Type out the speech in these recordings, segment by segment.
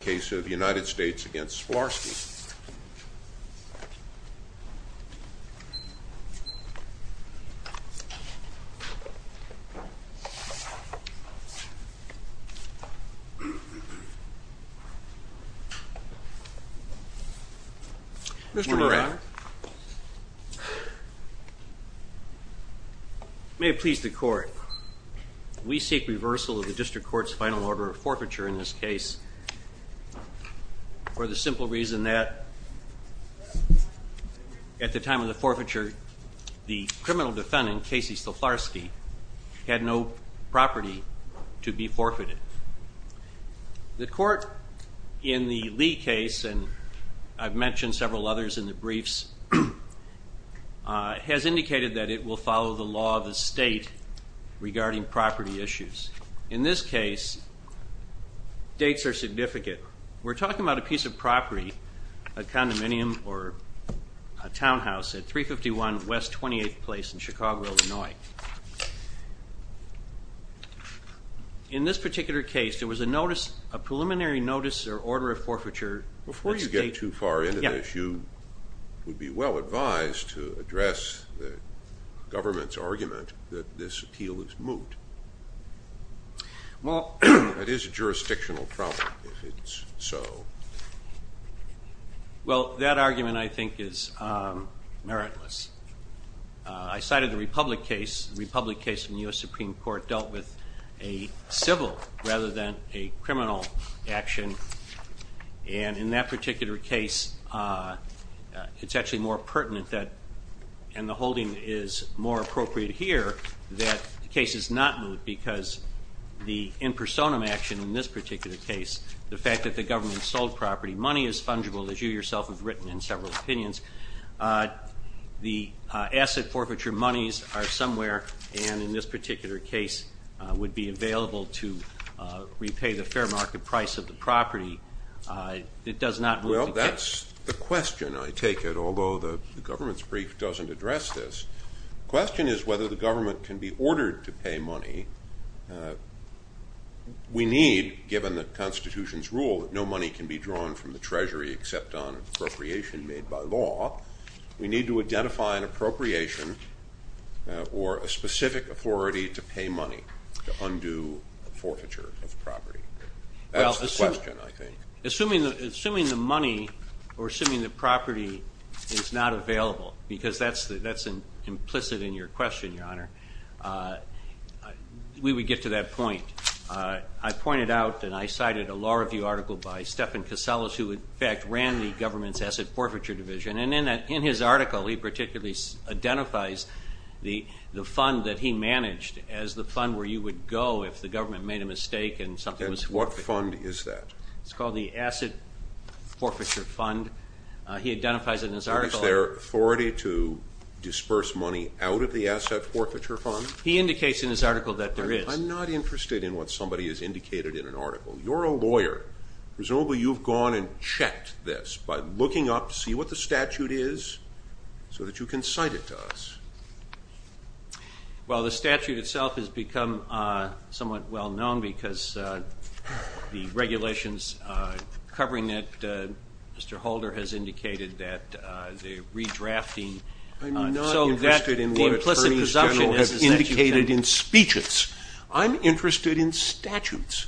case of United States v. Szaflarski. Mr. Moran. We seek reversal of the District Court's final order of forfeiture in this case for the simple reason that at the time of the forfeiture, the criminal defendant, Casey Szaflarski, had no property to be forfeited. The court in the Lee case, and I've mentioned several others in the briefs, has indicated that it will follow the law of the state regarding property issues. In this case, dates are significant. We're talking about a piece of property, a condominium or a townhouse at 351 West 28th Place in Chicago, Illinois. In this particular case, there was a preliminary notice or order of forfeiture. Before you get too far into this, you would be well advised to address the government's argument that this appeal is moot. That is a jurisdictional problem, if it's so. Well, that argument, I think, is meritless. I cited the Republic case. The Republic case in the U.S. Supreme Court dealt with a civil rather than a criminal action. And in that particular case, it's actually more pertinent that, and the holding is more appropriate here, that the case is not moot because the in personam action in this particular case, the fact that the government sold property money is fungible, as you yourself have written in several opinions. The asset forfeiture monies are somewhere, and in this particular case, would be available to repay the fair market price of the property. It does not move the case. Well, that's the question, I take it, although the government's brief doesn't address this. The question is whether the government can be ordered to pay money. We need, given the Constitution's rule that no money can be drawn from the treasury except on appropriation made by law. We need to identify an appropriation or a specific authority to pay money to undo forfeiture of property. That's the question, I think. Assuming the money or assuming the property is not available, because that's implicit in your question, Your Honor, we would get to that point. I pointed out, and I cited a law review article by Stephan Caselas, who in fact ran the government's asset forfeiture division. And in his article, he particularly identifies the fund that he managed as the fund where you would go if the government made a mistake and something was forfeited. And what fund is that? It's called the asset forfeiture fund. He identifies it in his article. Is there authority to disperse money out of the asset forfeiture fund? He indicates in his article that there is. I'm not interested in what somebody has indicated in an article. You're a lawyer. Presumably you've gone and checked this by looking up to see what the statute is so that you can cite it to us. Well, the statute itself has become somewhat well known because the regulations covering it, Mr. Holder has indicated that the redrafting. I'm not interested in what the Attorney General has indicated in speeches. I'm interested in statutes.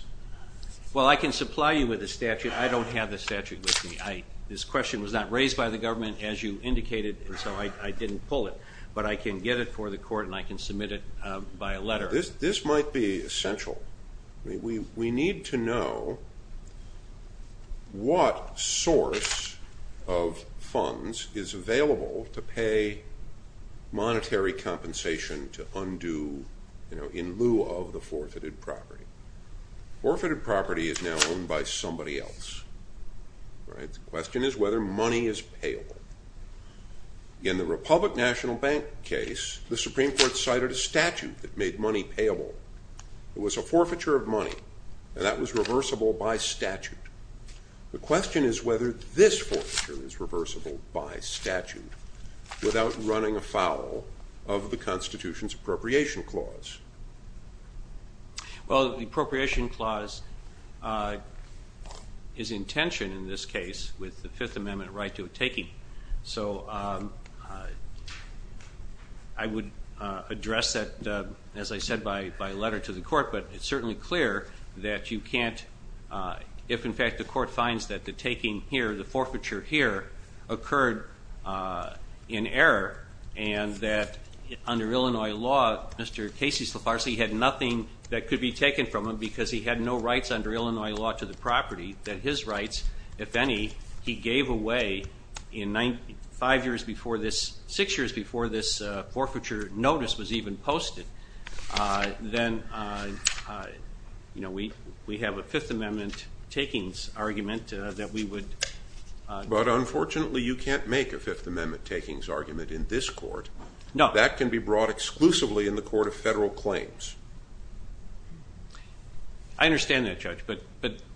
Well, I can supply you with a statute. I don't have the statute with me. This question was not raised by the government, as you indicated, and so I didn't pull it. But I can get it for the court and I can submit it by a letter. This might be essential. We need to know what source of funds is available to pay monetary compensation to undo in lieu of the forfeited property. Forfeited property is now owned by somebody else. The question is whether money is payable. In the Republic National Bank case, the Supreme Court cited a statute that made money payable. It was a forfeiture of money, and that was reversible by statute. The question is whether this forfeiture is reversible by statute without running afoul of the Constitution's appropriation clause. Well, the appropriation clause is in tension in this case with the Fifth Amendment right to a taking. So I would address that, as I said, by letter to the court. But it's certainly clear that you can't, if in fact the court finds that the taking here, the forfeiture here, occurred in error and that under Illinois law, Mr. Casey Slifarsi had nothing that could be taken from him because he had no rights under Illinois law to the property, that his rights, if any, he gave away five years before this, six years before this forfeiture notice was even posted, then we have a Fifth Amendment takings argument that we would But unfortunately you can't make a Fifth Amendment takings argument in this court. No. That can be brought exclusively in the Court of Federal Claims. I understand that, Judge, but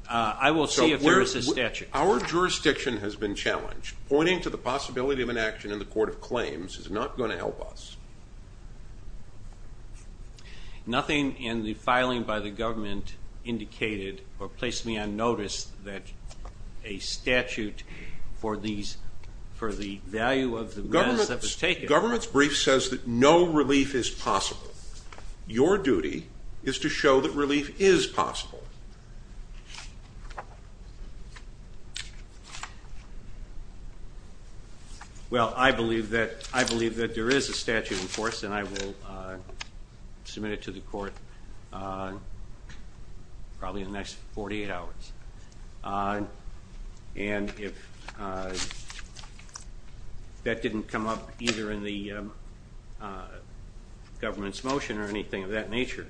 I will see if there is a statute. Our jurisdiction has been challenged. Pointing to the possibility of an action in the Court of Claims is not going to help us. Nothing in the filing by the government indicated or placed me on notice that a statute for the value of the mess that was taken Government's brief says that no relief is possible. Your duty is to show that relief is possible. Well, I believe that there is a statute in force and I will submit it to the court probably in the next 48 hours. And if that didn't come up either in the government's motion or anything of that nature,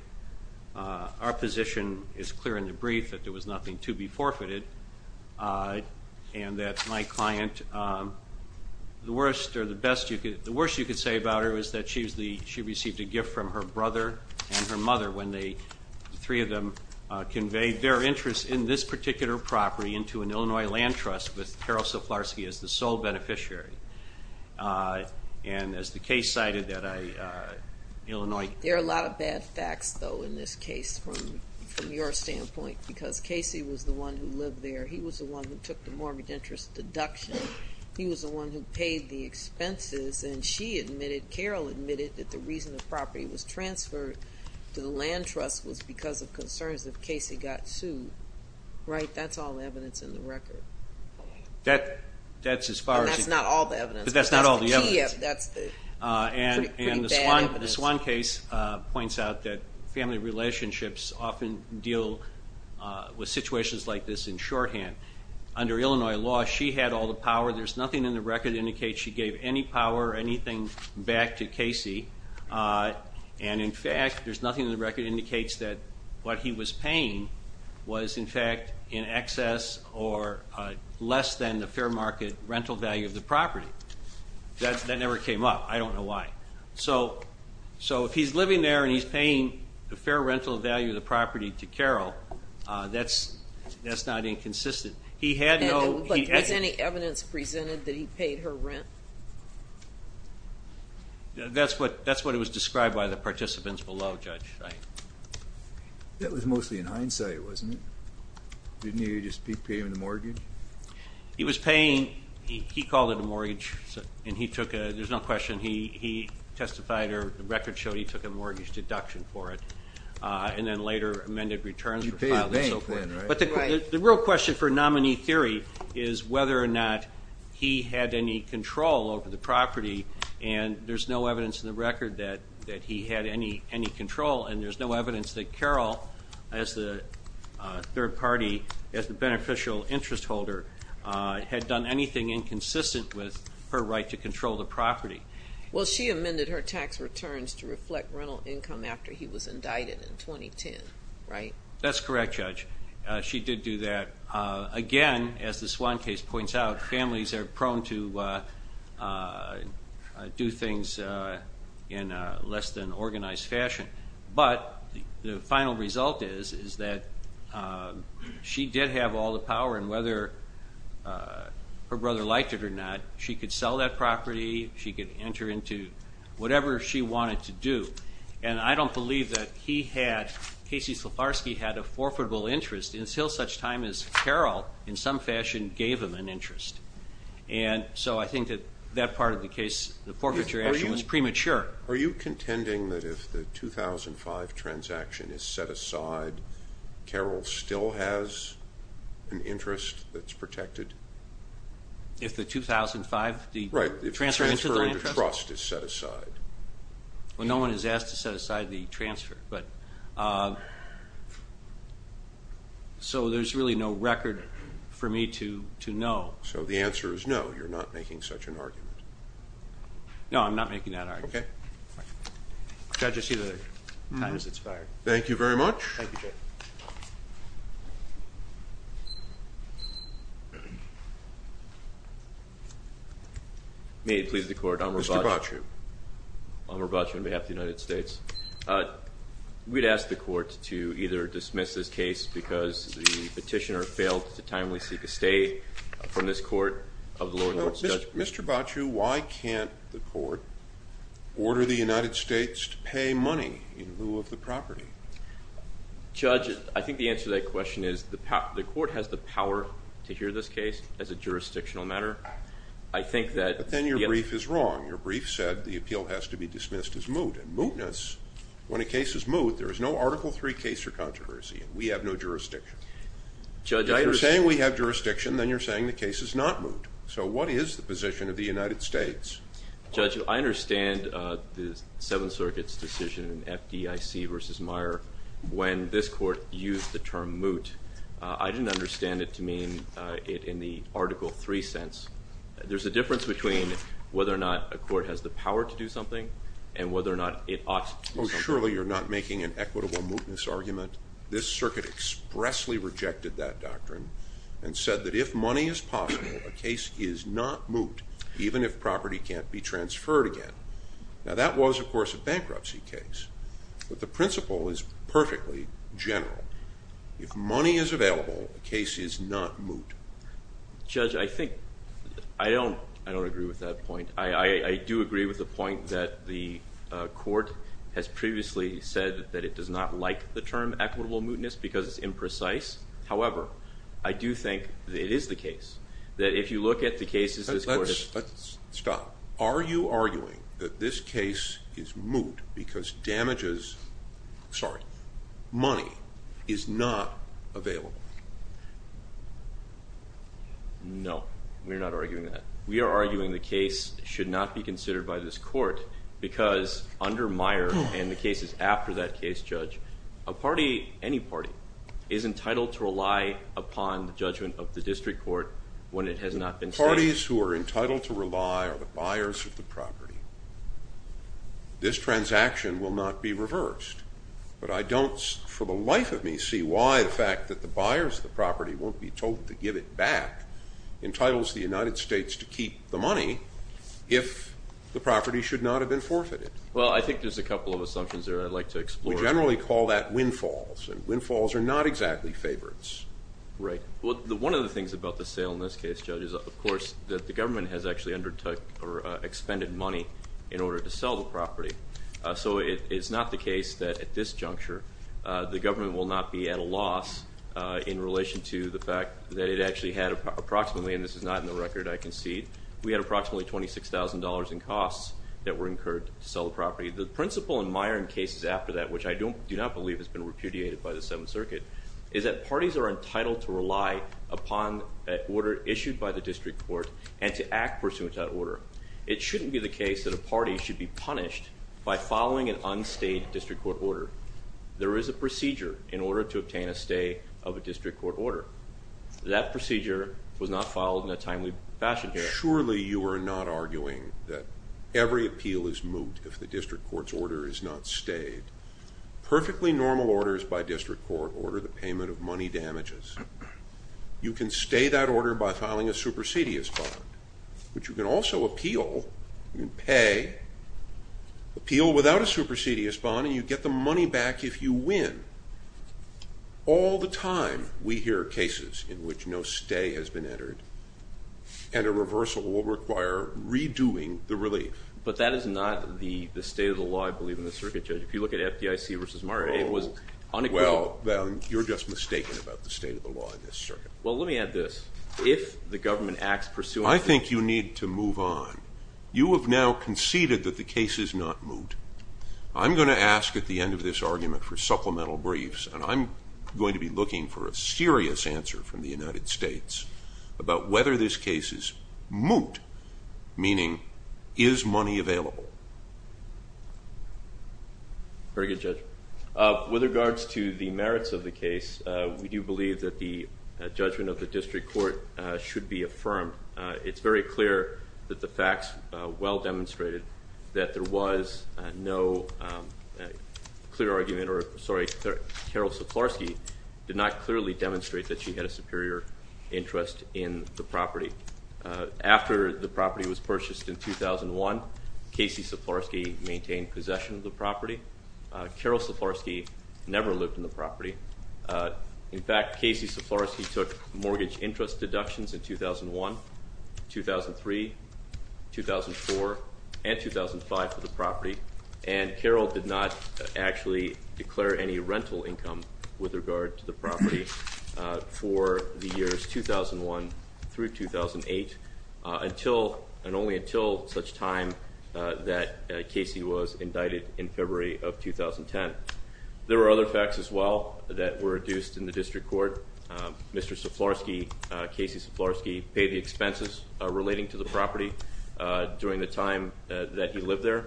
our position is clear in the brief that there was nothing to be forfeited and that my client, the worst you could say about her is that she received a gift from her brother and her mother when the three of them conveyed their interest in this particular property into an Illinois land trust with Carol Soflarski as the sole beneficiary. And as the case cited that Illinois There are a lot of bad facts though in this case from your standpoint because Casey was the one who lived there. He was the one who took the mortgage interest deduction. He was the one who paid the expenses and she admitted, Carol admitted, that the reason the property was transferred to the land trust was because of concerns that Casey got sued. Right? That's all the evidence in the record. That's as far as And that's not all the evidence. But that's not all the evidence. And the Swan case points out that family relationships often deal with situations like this in shorthand. Under Illinois law, she had all the power. There's nothing in the record that indicates she gave any power or anything back to Casey. And, in fact, there's nothing in the record that indicates that what he was paying was, in fact, in excess or less than the fair market rental value of the property. That never came up. I don't know why. So if he's living there and he's paying the fair rental value of the property to Carol, that's not inconsistent. He had no But was any evidence presented that he paid her rent? That's what it was described by the participants below, Judge. That was mostly in hindsight, wasn't it? Didn't he just pay him the mortgage? He was paying. He called it a mortgage. And he took a There's no question. He testified or the record showed he took a mortgage deduction for it and then later amended returns for filing and so forth. But the real question for nominee theory is whether or not he had any control over the property. And there's no evidence in the record that he had any control. And there's no evidence that Carol, as the third party, as the beneficial interest holder, had done anything inconsistent with her right to control the property. Well, she amended her tax returns to reflect rental income after he was indicted in 2010, right? That's correct, Judge. She did do that. Again, as this one case points out, families are prone to do things in less than organized fashion. But the final result is, is that she did have all the power. And whether her brother liked it or not, she could sell that property. She could enter into whatever she wanted to do. And I don't believe that he had, Casey Slifarski, had a forfeitable interest until such time as Carol, in some fashion, gave him an interest. And so I think that that part of the case, the forfeiture action, was premature. Are you contending that if the 2005 transaction is set aside, Carol still has an interest that's protected? If the 2005, the transfer into the interest? Right, if the transfer into trust is set aside. Well, no one has asked to set aside the transfer. So there's really no record for me to know. So the answer is no, you're not making such an argument. No, I'm not making that argument. Okay. Judge, I see the time has expired. Thank you very much. Thank you, Judge. May it please the Court, I'm Robacho. Mr. Baciu. I'm Robacho on behalf of the United States. We'd ask the Court to either dismiss this case because the petitioner failed to timely seek a stay from this Court of the lower courts. Mr. Baciu, why can't the Court order the United States to pay money in lieu of the property? Judge, I think the answer to that question is the Court has the power to hear this case as a jurisdictional matter. I think that – But then your brief is wrong. Your brief said the appeal has to be dismissed as moot. And mootness, when a case is moot, there is no Article III case for controversy. We have no jurisdiction. Judge – If you're saying we have jurisdiction, then you're saying the case is not moot. So what is the position of the United States? Judge, I understand the Seventh Circuit's decision in FDIC v. Meyer when this Court used the term moot. I didn't understand it to mean it in the Article III sense. There's a difference between whether or not a court has the power to do something and whether or not it ought to do something. Oh, surely you're not making an equitable mootness argument. This Circuit expressly rejected that doctrine and said that if money is possible, a case is not moot, even if property can't be transferred again. Now, that was, of course, a bankruptcy case. But the principle is perfectly general. If money is available, a case is not moot. Judge, I think – I don't agree with that point. I do agree with the point that the Court has previously said that it does not like the term equitable mootness because it's imprecise. However, I do think that it is the case, that if you look at the cases this Court has – Let's stop. Are you arguing that this case is moot because damages – sorry – money is not available? No, we're not arguing that. We are arguing the case should not be considered by this Court because under Meyer and the cases after that case, Judge, a party, any party, is entitled to rely upon the judgment of the District Court when it has not been stated. Parties who are entitled to rely are the buyers of the property. This transaction will not be reversed, but I don't, for the life of me, see why the fact that the buyers of the property won't be told to give it back entitles the United States to keep the money if the property should not have been forfeited. Well, I think there's a couple of assumptions there I'd like to explore. We generally call that windfalls, and windfalls are not exactly favorites. Right. Well, one of the things about the sale in this case, Judge, is, of course, that the government has actually undertook or expended money in order to sell the property. So it's not the case that at this juncture the government will not be at a loss in relation to the fact that it actually had approximately, and this is not in the record, I concede, we had approximately $26,000 in costs that were incurred to sell the property. The principle in Meyer and cases after that, which I do not believe has been repudiated by the Seventh Circuit, is that parties are entitled to rely upon an order issued by the District Court and to act pursuant to that order. It shouldn't be the case that a party should be punished by following an unstayed District Court order. There is a procedure in order to obtain a stay of a District Court order. That procedure was not followed in a timely fashion here. Surely you are not arguing that every appeal is moot if the District Court's order is not stayed. Perfectly normal orders by District Court order the payment of money damages. You can stay that order by filing a supersedious bond, which you can also appeal, you can pay, appeal without a supersedious bond, and you get the money back if you win. All the time we hear cases in which no stay has been entered and a reversal will require redoing the relief. But that is not the state of the law, I believe, in the Circuit, Judge. If you look at FDIC versus Meyer, it was unequivocal. Well, then, you're just mistaken about the state of the law in this Circuit. Well, let me add this. If the government acts pursuant to- I think you need to move on. You have now conceded that the case is not moot. I'm going to ask at the end of this argument for supplemental briefs, and I'm going to be looking for a serious answer from the United States about whether this case is moot, meaning, is money available? Very good, Judge. With regards to the merits of the case, we do believe that the judgment of the district court should be affirmed. It's very clear that the facts well demonstrated that there was no clear argument, or, sorry, Carol Saplarsky did not clearly demonstrate that she had a superior interest in the property. After the property was purchased in 2001, Casey Saplarsky maintained possession of the property. Carol Saplarsky never lived in the property. In fact, Casey Saplarsky took mortgage interest deductions in 2001, 2003, 2004, and 2005 for the property, and Carol did not actually declare any rental income with regard to the property for the years 2001 through 2008, and only until such time that Casey was indicted in February of 2010. There were other facts as well that were adduced in the district court. Mr. Saplarsky, Casey Saplarsky, paid the expenses relating to the property during the time that he lived there,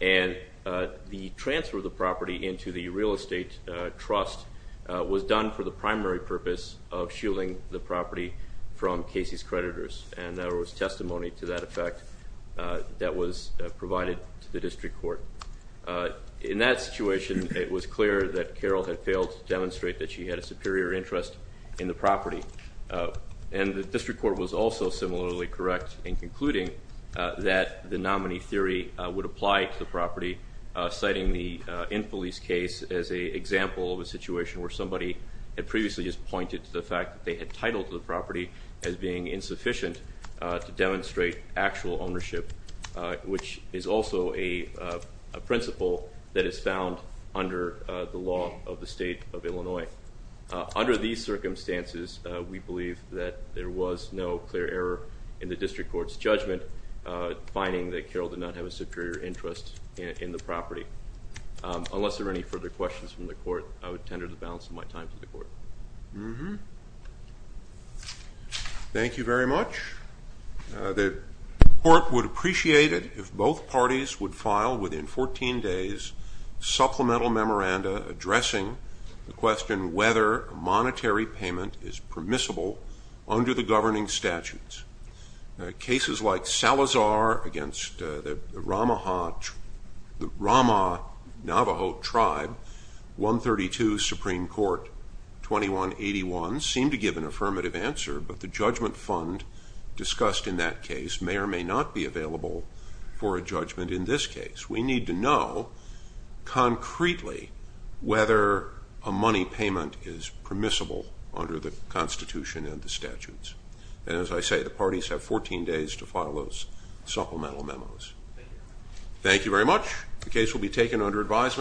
and the transfer of the property into the real estate trust was done for the primary purpose of shielding the property from Casey's creditors. And there was testimony to that effect that was provided to the district court. In that situation, it was clear that Carol had failed to demonstrate that she had a superior interest in the property, and the district court was also similarly correct in concluding that the nominee theory would apply to the property, citing the in-police case as an example of a situation where somebody had previously just pointed to the fact that they had titled the property as being insufficient to demonstrate actual ownership, which is also a principle that is found under the law of the state of Illinois. Under these circumstances, we believe that there was no clear error in the district court's judgment, finding that Carol did not have a superior interest in the property. Unless there are any further questions from the court, I would tender the balance of my time to the court. Thank you very much. The court would appreciate it if both parties would file within 14 days supplemental memoranda addressing the question whether monetary payment is permissible under the governing statutes. Cases like Salazar against the Rama Navajo tribe, 132 Supreme Court 2181, seem to give an affirmative answer, but the judgment fund discussed in that case may or may not be available for a judgment in this case. We need to know concretely whether a money payment is permissible under the Constitution and the statutes. And as I say, the parties have 14 days to file those supplemental memos. Thank you very much. The case will be taken under advisement.